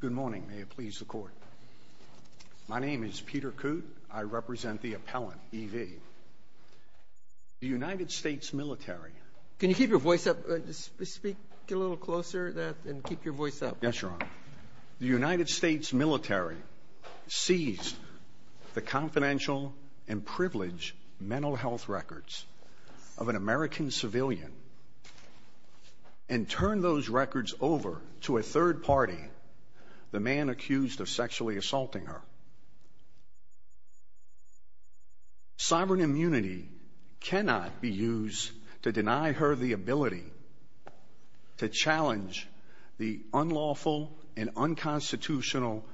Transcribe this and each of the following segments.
Good morning. May it please the Court. My name is Peter Coote. I represent the appellant, E. v. The United States military Can you keep your voice up? Speak a little closer and keep your voice up. Yes, Your Honor. The United States military seized the confidential and privileged mental health records of an American civilian and turned those records over to a third party, the man accused of sexually assaulting her. Sovereign immunity cannot be used to deny her the ability to challenge the unlawful and unconstitutional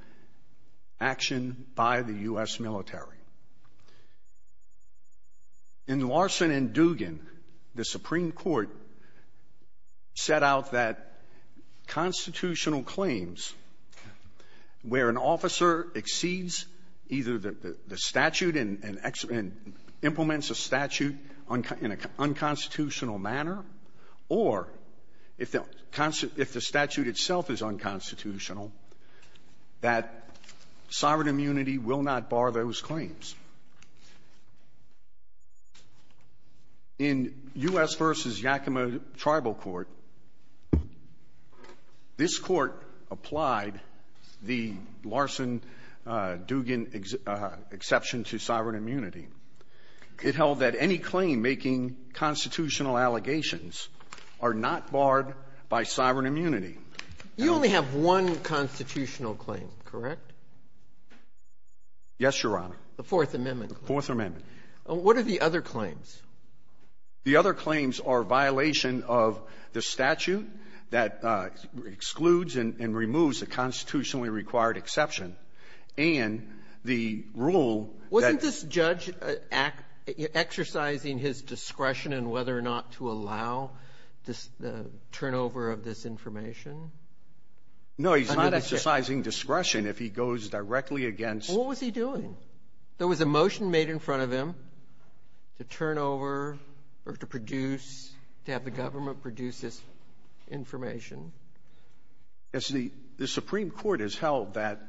action by the U.S. military. In Larson and Dugan, the Supreme Court set out that constitutional claims where an officer exceeds either the statute and implements a statute in an unconstitutional manner or if the statute itself is unconstitutional, that sovereign immunity will not bar those claims. In U.S. v. Yakima Tribal Court, this Court applied the Larson-Dugan exception to sovereign are not barred by sovereign immunity. You only have one constitutional claim, correct? Yes, Your Honor. The Fourth Amendment. The Fourth Amendment. What are the other claims? The other claims are violation of the statute that excludes and removes a constitutionally required exception and the rule that — Is the judge exercising his discretion in whether or not to allow the turnover of this information? No, he's not exercising discretion if he goes directly against — What was he doing? There was a motion made in front of him to turn over or to produce, to have the government produce this information. The Supreme Court has held that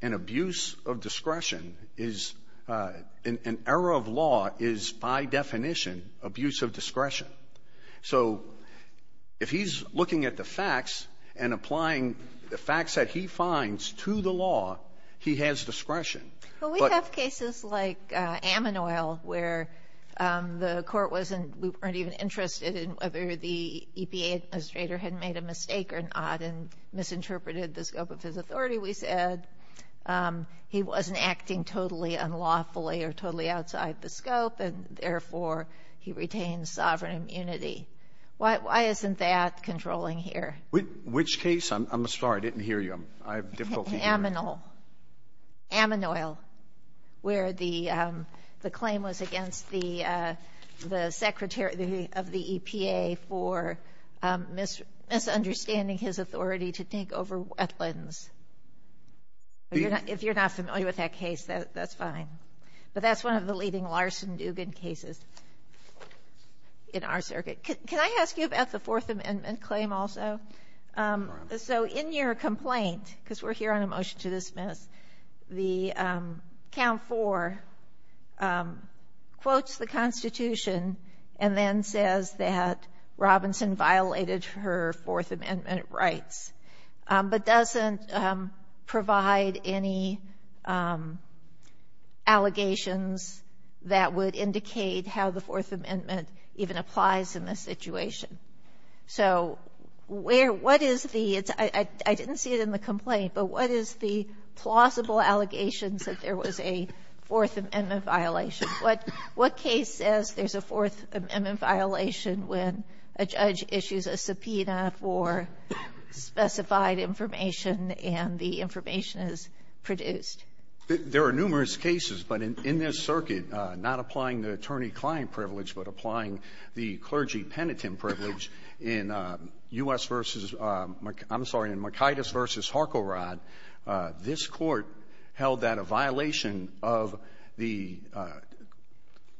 an abuse of discretion is — an error of law is, by definition, abuse of discretion. So if he's looking at the facts and applying the facts that he finds to the law, he has discretion, but — Well, we have cases like Ammon Oil where the Court wasn't — we weren't even interested in whether the EPA administrator had made a mistake or not and misinterpreted the scope of his authority, we said. He wasn't acting totally unlawfully or totally outside the scope, and therefore, he retained sovereign immunity. Why isn't that controlling here? Which case? I'm sorry. I didn't hear you. I have difficulty hearing you. Ammon Oil, where the claim was against the secretary of the EPA for misunderstanding his authority to take over wetlands. If you're not familiar with that case, that's fine. But that's one of the leading Larson-Dugan cases in our circuit. Can I ask you about the Fourth Amendment claim also? Sure. So in your complaint, because we're here on a motion to dismiss, the count four quotes the Constitution and then says that Robinson violated her Fourth Amendment rights, but doesn't provide any allegations that would indicate how the Fourth Amendment even applies in this situation. So where — what is the — I didn't see it in the complaint, but what is the plausible allegations that there was a Fourth Amendment violation? What case says there's a Fourth Amendment violation when a judge issues a subpoena for specified information and the information is produced? There are numerous cases, but in this circuit, not applying the attorney-client privilege, but applying the clergy-penitent privilege in U.S. v. — I'm sorry, in Mikaitis v. Harcorod, this Court held that a violation of the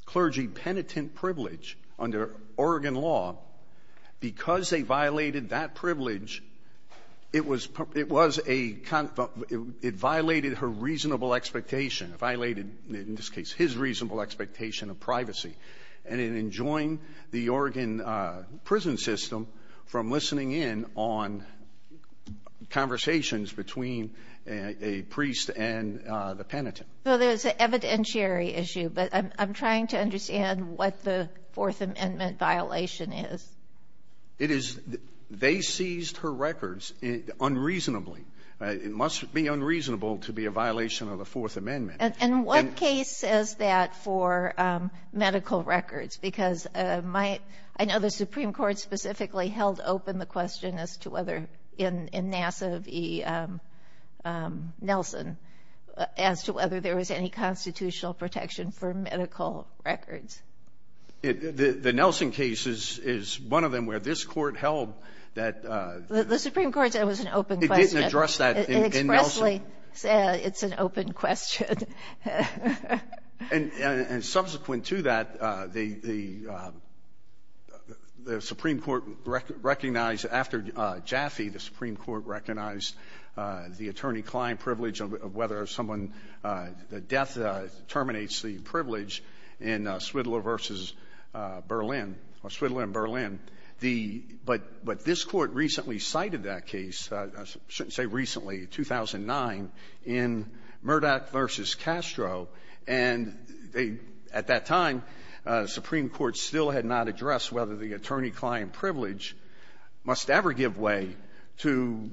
clergy-penitent privilege under Oregon law, because they violated that privilege, it was — it was a — it violated her reasonable expectation, violated, in this case, his reasonable expectation of privacy, and it enjoined the Oregon prison system from listening in on conversations between a priest and the penitent. Well, there's an evidentiary issue, but I'm trying to understand what the Fourth Amendment violation is. It is — they seized her records unreasonably. It must be unreasonable to be a violation of the Fourth Amendment. And what case says that for medical records? Because my — I know the Supreme Court specifically held open the question as to whether, in Nassiv v. Nelson, as to whether there was any constitutional protection for medical records. The — the Nelson case is — is one of them where this Court held that — The Supreme Court said it was an open question. It didn't address that in Nelson. It expressly said it's an open question. And — and subsequent to that, the — the Supreme Court recognized, after Jaffee, the Supreme Court recognized the attorney-client privilege of whether someone — the death terminates the privilege in Swidler v. Berlin — or Swidler and Berlin. The — but — but this Court recently cited that case, I shouldn't say recently, 2009, in Murdoch v. Castro. And they — at that time, the Supreme Court still had not addressed whether the attorney-client privilege must ever give way to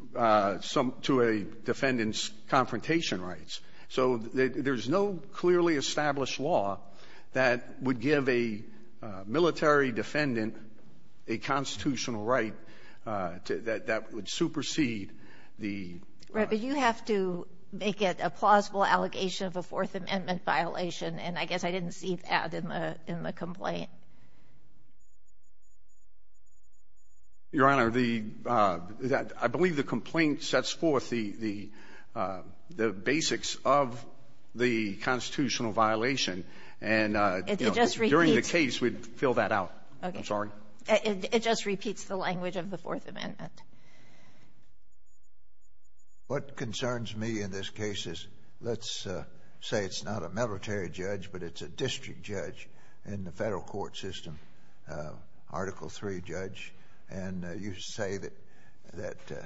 some — to a defendant's confrontation rights. So there's no clearly established law that would give a military defendant a constitutional right to — that would supersede the — Right. But you have to make it a plausible allegation of a Fourth Amendment violation, and I guess I didn't see that in the — in the complaint. Your Honor, the — I believe the complaint sets forth the — the basics of the constitutional violation, and, you know, during the case, we'd fill that out. Okay. I'm sorry? It just repeats the language of the Fourth Amendment. What concerns me in this case is, let's say it's not a military judge, but it's a district judge in the Federal court system, Article III judge, and you say that — that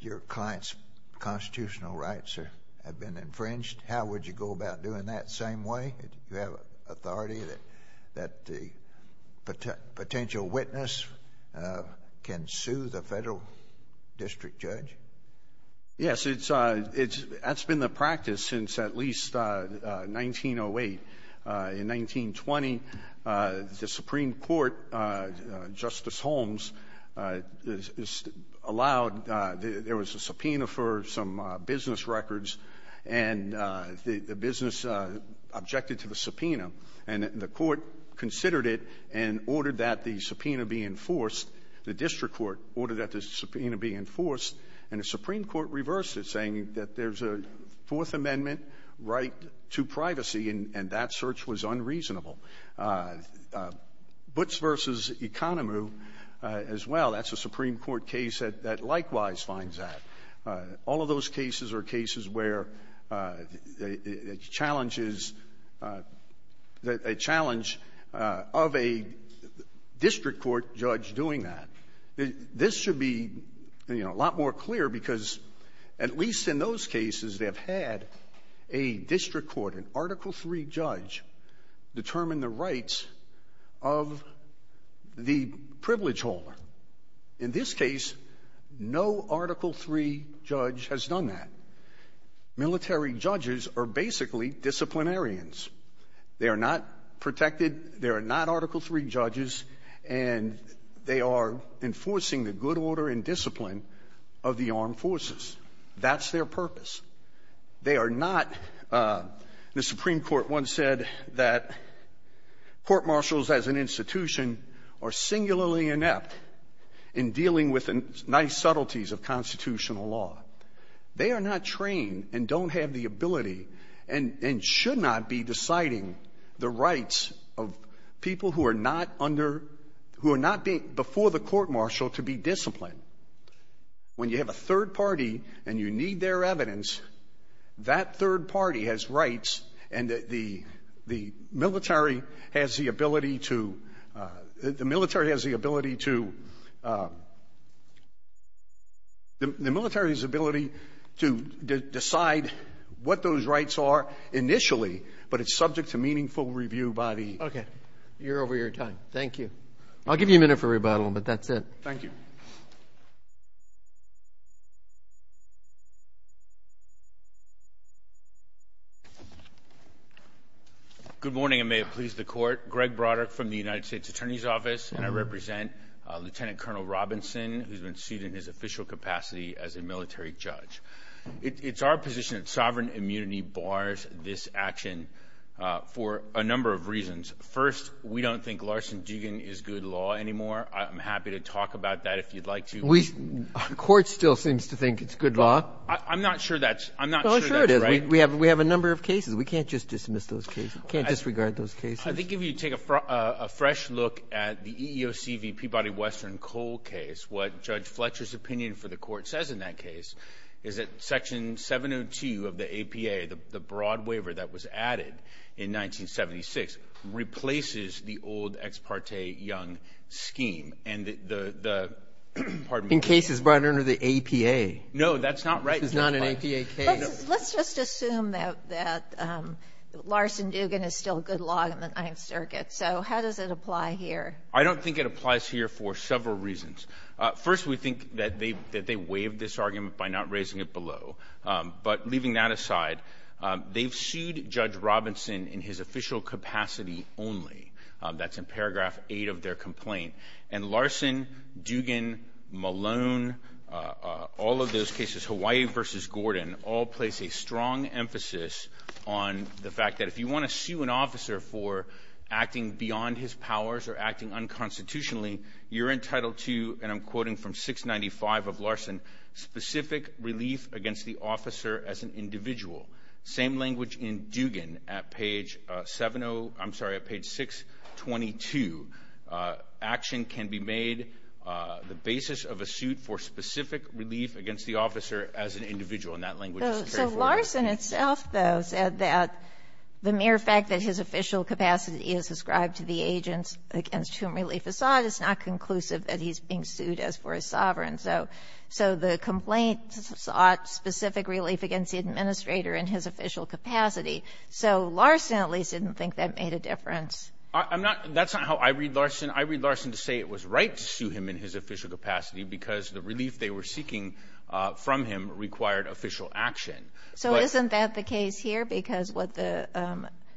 your client's constitutional rights have been infringed. How would you go about doing that same way? Do you have authority that the potential witness can sue the Federal district judge? Yes, it's — it's — that's been the practice since at least 1908. In 1920, the Supreme Court, Justice Holmes, allowed — there was a subpoena for some business records, and the — the business objected to the subpoena, and the court considered it and ordered that the subpoena be enforced. The district court ordered that the subpoena be enforced, and the Supreme Court reversed it, saying that there's a Fourth Amendment right to privacy, and that search was unreasonable. Butts v. Economo, as well, that's a Supreme Court case that — that likewise finds that. All of those cases are cases where the challenge is — a challenge of a district court judge doing that. This should be, you know, a lot more clear because, at least in those cases, they've had a district court, an Article III judge, determine the rights of the privilege holder. In this case, no Article III judge has done that. Military judges are basically disciplinarians. They are not protected. They are not Article III judges. And they are enforcing the good order and discipline of the armed forces. That's their purpose. They are not — the Supreme Court once said that court-martials as an institution are singularly inept in dealing with the nice subtleties of constitutional law. They are not trained and don't have the ability and — and should not be deciding the rights of people who are not under — who are not being — before the court-martial to be disciplined. When you have a third party and you need their evidence, that third party has rights, and the — the military has the ability to — the military has the ability to — the military's ability to decide what those rights are initially, but it's subject to meaningful review by the — Okay. You're over your time. Thank you. I'll give you a minute for rebuttal, but that's it. Thank you. Good morning, and may it please the Court. Greg Broderick from the United States Attorney's Office, and I represent Lieutenant Colonel Robinson, who's been sued in his official capacity as a military judge. It's our position that sovereign immunity bars this action for a number of reasons. First, we don't think Larson-Dugan is good law anymore. I'm happy to talk about that if you'd like to. We — the Court still seems to think it's good law. I'm not sure that's — I'm not sure that's right. Well, sure it is. We have — we have a number of cases. We can't just dismiss those cases. We can't disregard those cases. I think if you take a fresh look at the EEOC v. Peabody-Western-Cole case, what Judge Fletcher's opinion for the Court says in that case is that Section 702 of the APA, the broad waiver that was added in 1976, replaces the old Ex parte Young scheme, and the — pardon me. In cases brought under the APA. No, that's not right. It's not an APA case. Let's just assume that Larson-Dugan is still good law in the Ninth Circuit. So how does it apply here? I don't think it applies here for several reasons. First, we think that they — that they waived this argument by not raising it below. But leaving that aside, they've sued Judge Robinson in his official capacity only. That's in paragraph 8 of their complaint. And Larson-Dugan, Malone, all of those cases, Hawaii v. Gordon, all place a strong emphasis on the fact that if you want to sue an officer for acting beyond his powers or acting unconstitutionally, you're entitled to, and I'm quoting from 695 of Larson, specific relief against the officer as an individual. Same language in Dugan at page 70 — I'm sorry, at page 622. Action can be made, the basis of a suit for specific relief against the officer as an individual. And that language is straightforward. But Larson itself, though, said that the mere fact that his official capacity is ascribed to the agents against whom relief is sought is not conclusive that he's being sued as for a sovereign. So the complaint sought specific relief against the administrator in his official capacity. So Larson at least didn't think that made a difference. I'm not — that's not how I read Larson. I read Larson to say it was right to sue him in his official capacity because the relief they were seeking from him required official action. So isn't that the case here? Because what the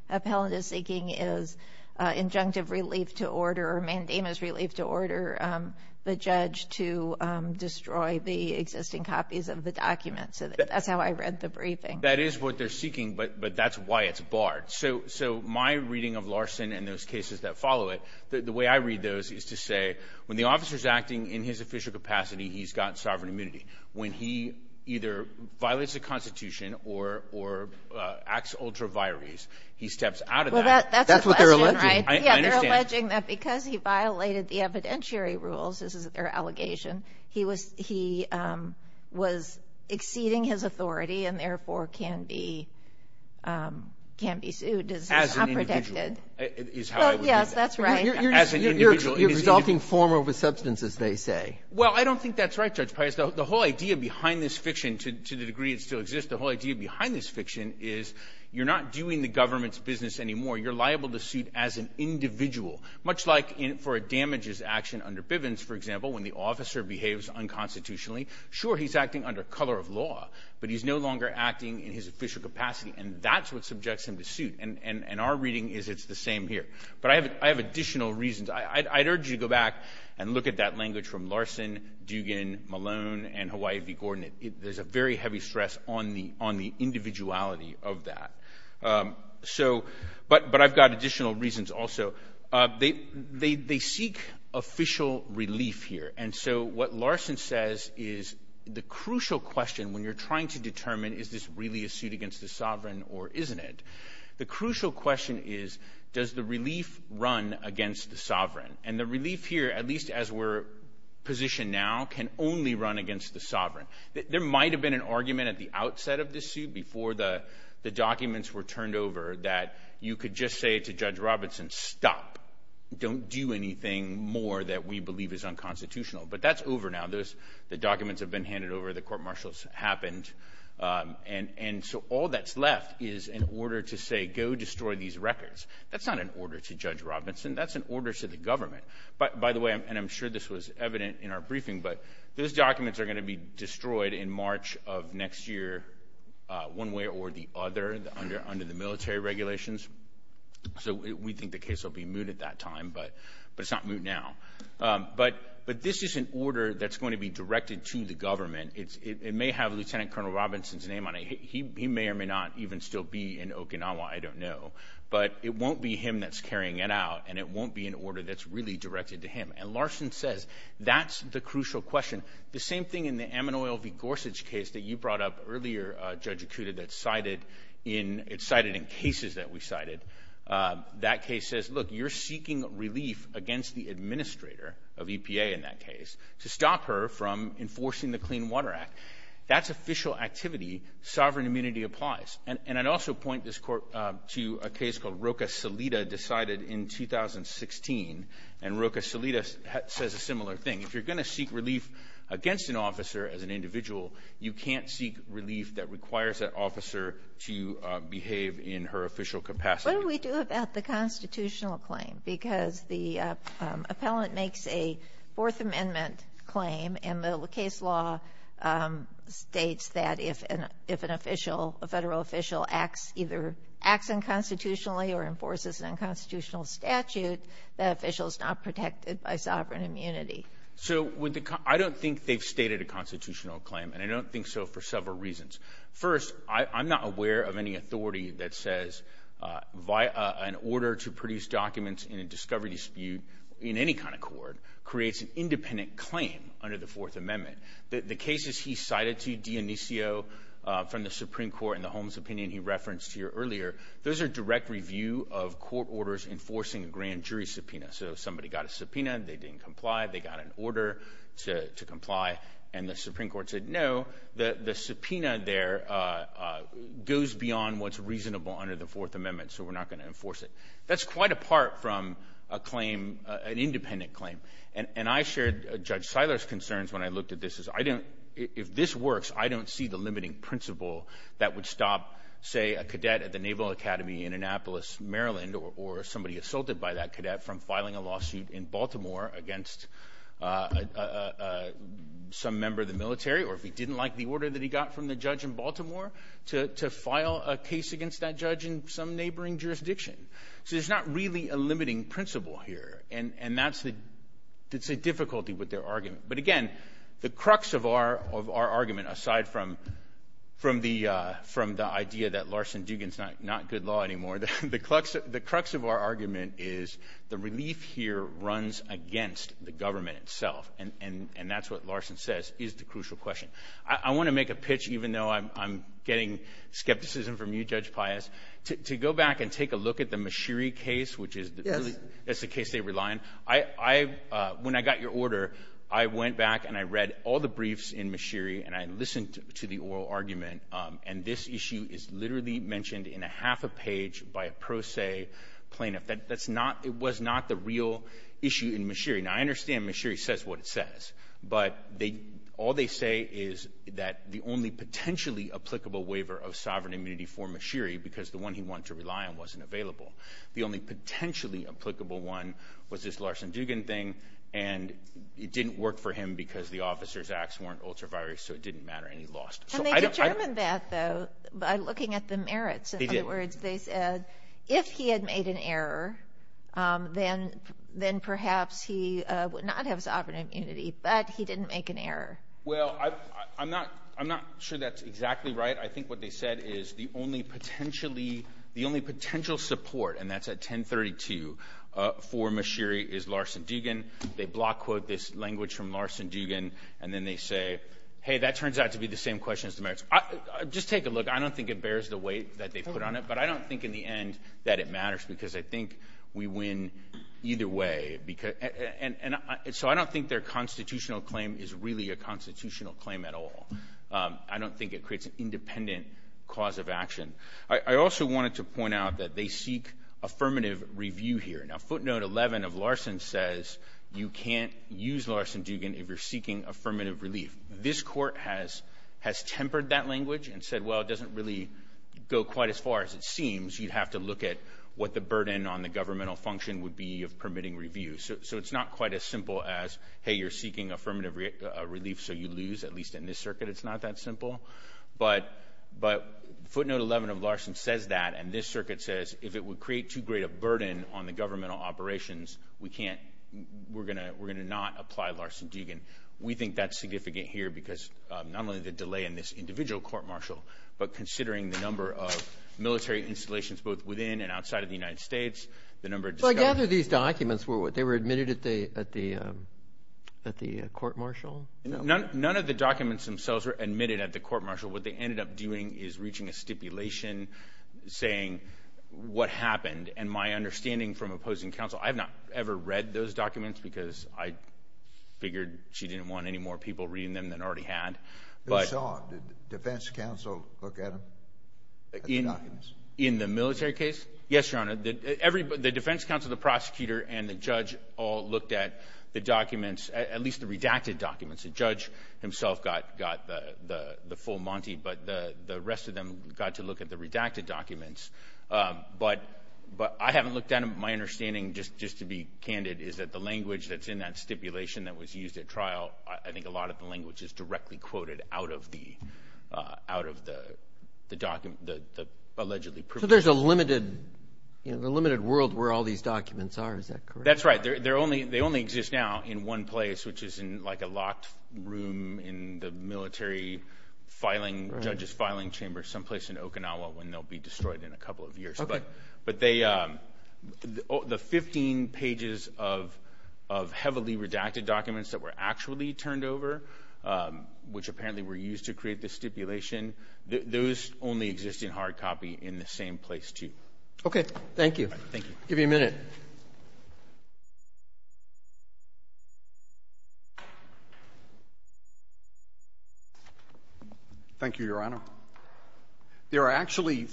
appellant is seeking is injunctive relief to order or mandamus relief to order the judge to destroy the existing copies of the document. So that's how I read the briefing. That is what they're seeking, but that's why it's barred. So my reading of Larson and those cases that follow it, the way I read those is to say when the officer's acting in his official capacity, he's got sovereign immunity. When he either violates the Constitution or acts ultra vires, he steps out of that. That's what they're alleging, right? Yeah, they're alleging that because he violated the evidentiary rules, this is their allegation, he was — he was exceeding his authority and therefore can be — can be sued. As an individual is how I would read that. Yes, that's right. As an individual. You're resulting form over substance, as they say. Well, I don't think that's right, Judge Piusdell. The whole idea behind this fiction, to the degree it still exists, the whole idea behind this fiction is you're not doing the government's business anymore. You're liable to suit as an individual, much like for a damages action under Bivens, for example, when the officer behaves unconstitutionally. Sure, he's acting under color of law, but he's no longer acting in his official capacity, and that's what subjects him to suit. And our reading is it's the same here. But I have additional reasons. I'd urge you to go back and look at that language from Larson, Dugan, Malone, and Hawaii v. Gordon. There's a very heavy stress on the individuality of that. So — but I've got additional reasons also. They seek official relief here. And so what Larson says is the crucial question when you're trying to determine is this really a suit against the sovereign or isn't it, the crucial question is does the relief run against the sovereign? And the relief here, at least as we're positioned now, can only run against the sovereign. There might have been an argument at the outset of this suit before the documents were turned over that you could just say to Judge Robinson, stop, don't do anything more that we believe is unconstitutional. But that's over now. The documents have been handed over. The court-martials happened. And so all that's left is an order to say go destroy these records. That's not an order to Judge Robinson. That's an order to the government. By the way, and I'm sure this was evident in our briefing, but those documents are going to be destroyed in March of next year one way or the other under the military regulations. So we think the case will be moot at that time, but it's not moot now. But this is an order that's going to be directed to the government. It may have Lieutenant Colonel Robinson's name on it. He may or may not even still be in Okinawa. I don't know. But it won't be him that's carrying it out, and it won't be an order that's really directed to him. And Larson says that's the crucial question. The same thing in the Amanoil v. Gorsuch case that you brought up earlier, Judge Ikuta, that's cited in cases that we cited. That case says, look, you're seeking relief against the administrator of EPA in that case to stop her from enforcing the Clean Water Act. That's official activity. Sovereign immunity applies. And I'd also point this Court to a case called Roca Salida decided in 2016, and Roca Salida says a similar thing. If you're going to seek relief against an officer as an individual, you can't seek relief that requires that officer to behave in her official capacity. What do we do about the constitutional claim? Because the appellant makes a Fourth Amendment claim, and the case law states that if an official, a federal official acts, either acts unconstitutionally or enforces an unconstitutional statute, that official's not protected by sovereign immunity. So I don't think they've stated a constitutional claim, and I don't think so for several reasons. First, I'm not aware of any authority that says an order to produce documents in a discovery dispute in any kind of court creates an independent claim under the Fourth Amendment. The cases he cited to Dionisio from the Supreme Court in the Holmes opinion he referenced here earlier, those are direct review of court orders enforcing a grand jury subpoena. So somebody got a subpoena, they didn't comply, they got an order to comply, and the Supreme Court said, no, the subpoena there goes beyond what's reasonable under the Fourth Amendment, so we're not going to enforce it. That's quite apart from a claim, an independent claim. And I shared Judge Seiler's concerns when I looked at this, is I don't – if this works, I don't see the limiting principle that would stop, say, a cadet at the Naval Academy in Annapolis, Maryland, or somebody assaulted by that cadet from filing a lawsuit in Baltimore against some member of the military, or if he didn't like the order that he got from the judge in Baltimore, to file a case against that judge in some neighboring jurisdiction. So there's not really a limiting principle here, and that's the difficulty with their argument. But again, the crux of our argument, aside from the idea that Larson-Dugan's not good law anymore, the crux of our argument is the relief here runs against the government itself, and that's what Larson says is the crucial question. I want to make a pitch, even though I'm getting skepticism from you, Judge Pius, to go back and take a look at the Mashiri case, which is the case they rely on. When I got your order, I went back and I read all the briefs in Mashiri, and I listened to the oral argument, and this issue is literally mentioned in a half a page by a pro se plaintiff. It was not the real issue in Mashiri. Now, I understand Mashiri says what it says, but all they say is that the only potentially applicable waiver of sovereign immunity for Mashiri, because the one he wanted to rely on wasn't available. The only potentially applicable one was this Larson-Dugan thing, and it didn't work for him because the officer's acts weren't ultraviolet, so it didn't matter, and he lost. And they determined that, though, by looking at the merits. In other words, they said if he had made an error, then perhaps he would not have sovereign immunity, but he didn't make an error. Well, I'm not sure that's exactly right. I think what they said is the only potential support, and that's at 1032, for Mashiri is Larson-Dugan. They block quote this language from Larson-Dugan, and then they say, hey, that turns out to be the same question as the merits. Just take a look. I don't think it bears the weight that they put on it, but I don't think in the end that it matters because I think we win either way. And so I don't think their constitutional claim is really a constitutional claim at all. I don't think it creates an independent cause of action. I also wanted to point out that they seek affirmative review here. Now, footnote 11 of Larson says you can't use Larson-Dugan if you're seeking affirmative relief. This Court has tempered that language and said, well, it doesn't really go quite as far as it seems. You'd have to look at what the burden on the governmental function would be of permitting review. So it's not quite as simple as, hey, you're seeking affirmative relief, so you lose. At least in this circuit, it's not that simple. But footnote 11 of Larson says that, and this circuit says if it would create too great a burden on the governmental operations, we can't, we're going to not apply Larson-Dugan. We think that's significant here because not only the delay in this individual court-martial, but considering the number of military installations both within and outside of the United States, the number of discoveries. None of the documents were, they were admitted at the court-martial? None of the documents themselves were admitted at the court-martial. What they ended up doing is reaching a stipulation saying what happened. And my understanding from opposing counsel, I've not ever read those documents because I figured she didn't want any more people reading them than already had. Who saw it? Did the defense counsel look at them, at the documents? In the military case? Yes, Your Honor. The defense counsel, the prosecutor, and the judge all looked at the documents, at least the redacted documents. The judge himself got the full monty, but the rest of them got to look at the redacted documents. But I haven't looked at them. My understanding, just to be candid, is that the language that's in that stipulation that was used at trial, I think a lot of the language is directly quoted out of the document, the allegedly privileged. So there's a limited world where all these documents are, is that correct? That's right. They only exist now in one place, which is in like a locked room in the military filing, judge's filing chamber, someplace in Okinawa when they'll be destroyed in a couple of years. But the 15 pages of heavily redacted documents that were actually turned over, which apparently were used to create the stipulation, those only exist in hard copy in the same place, too. Okay. Thank you. Thank you. I'll give you a minute. Thank you, Your Honor. There are actually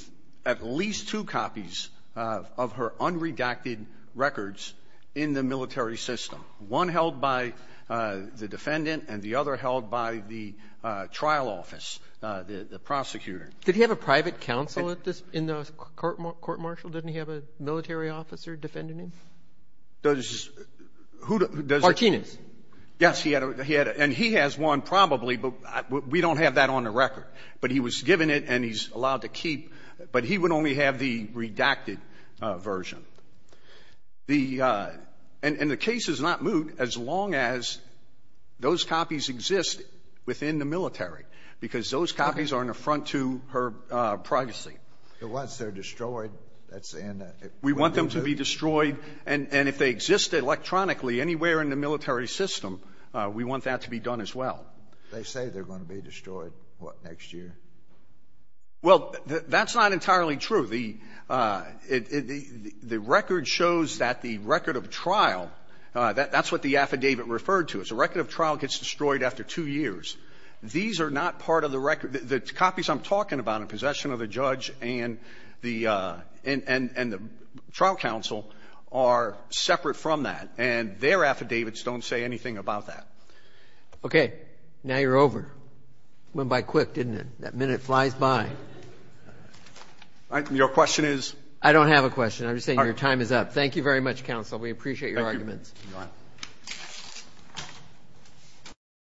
at least two copies of her unredacted records in the military system, one held by the defendant and the other held by the trial office, the prosecutor. Did he have a private counsel at this, in the court-martial? Didn't he have a military officer defending him? Does who does it? Martinez. Yes. He had a he had a and he has one probably, but we don't have that on the record. But he was given it and he's allowed to keep, but he would only have the redacted version. The and the case is not moot as long as those copies exist within the military, because those copies are an affront to her privacy. But once they're destroyed, that's the end of it. We want them to be destroyed. And if they exist electronically anywhere in the military system, we want that to be done as well. They say they're going to be destroyed, what, next year? Well, that's not entirely true. The record shows that the record of trial, that's what the affidavit referred to. It's a record of trial gets destroyed after two years. These are not part of the record. The copies I'm talking about in possession of the judge and the trial counsel are separate from that, and their affidavits don't say anything about that. Okay. Now you're over. Went by quick, didn't it? That minute flies by. Your question is? I don't have a question. I'm just saying your time is up. Thank you very much, counsel. We appreciate your arguments. Thank you. Go ahead.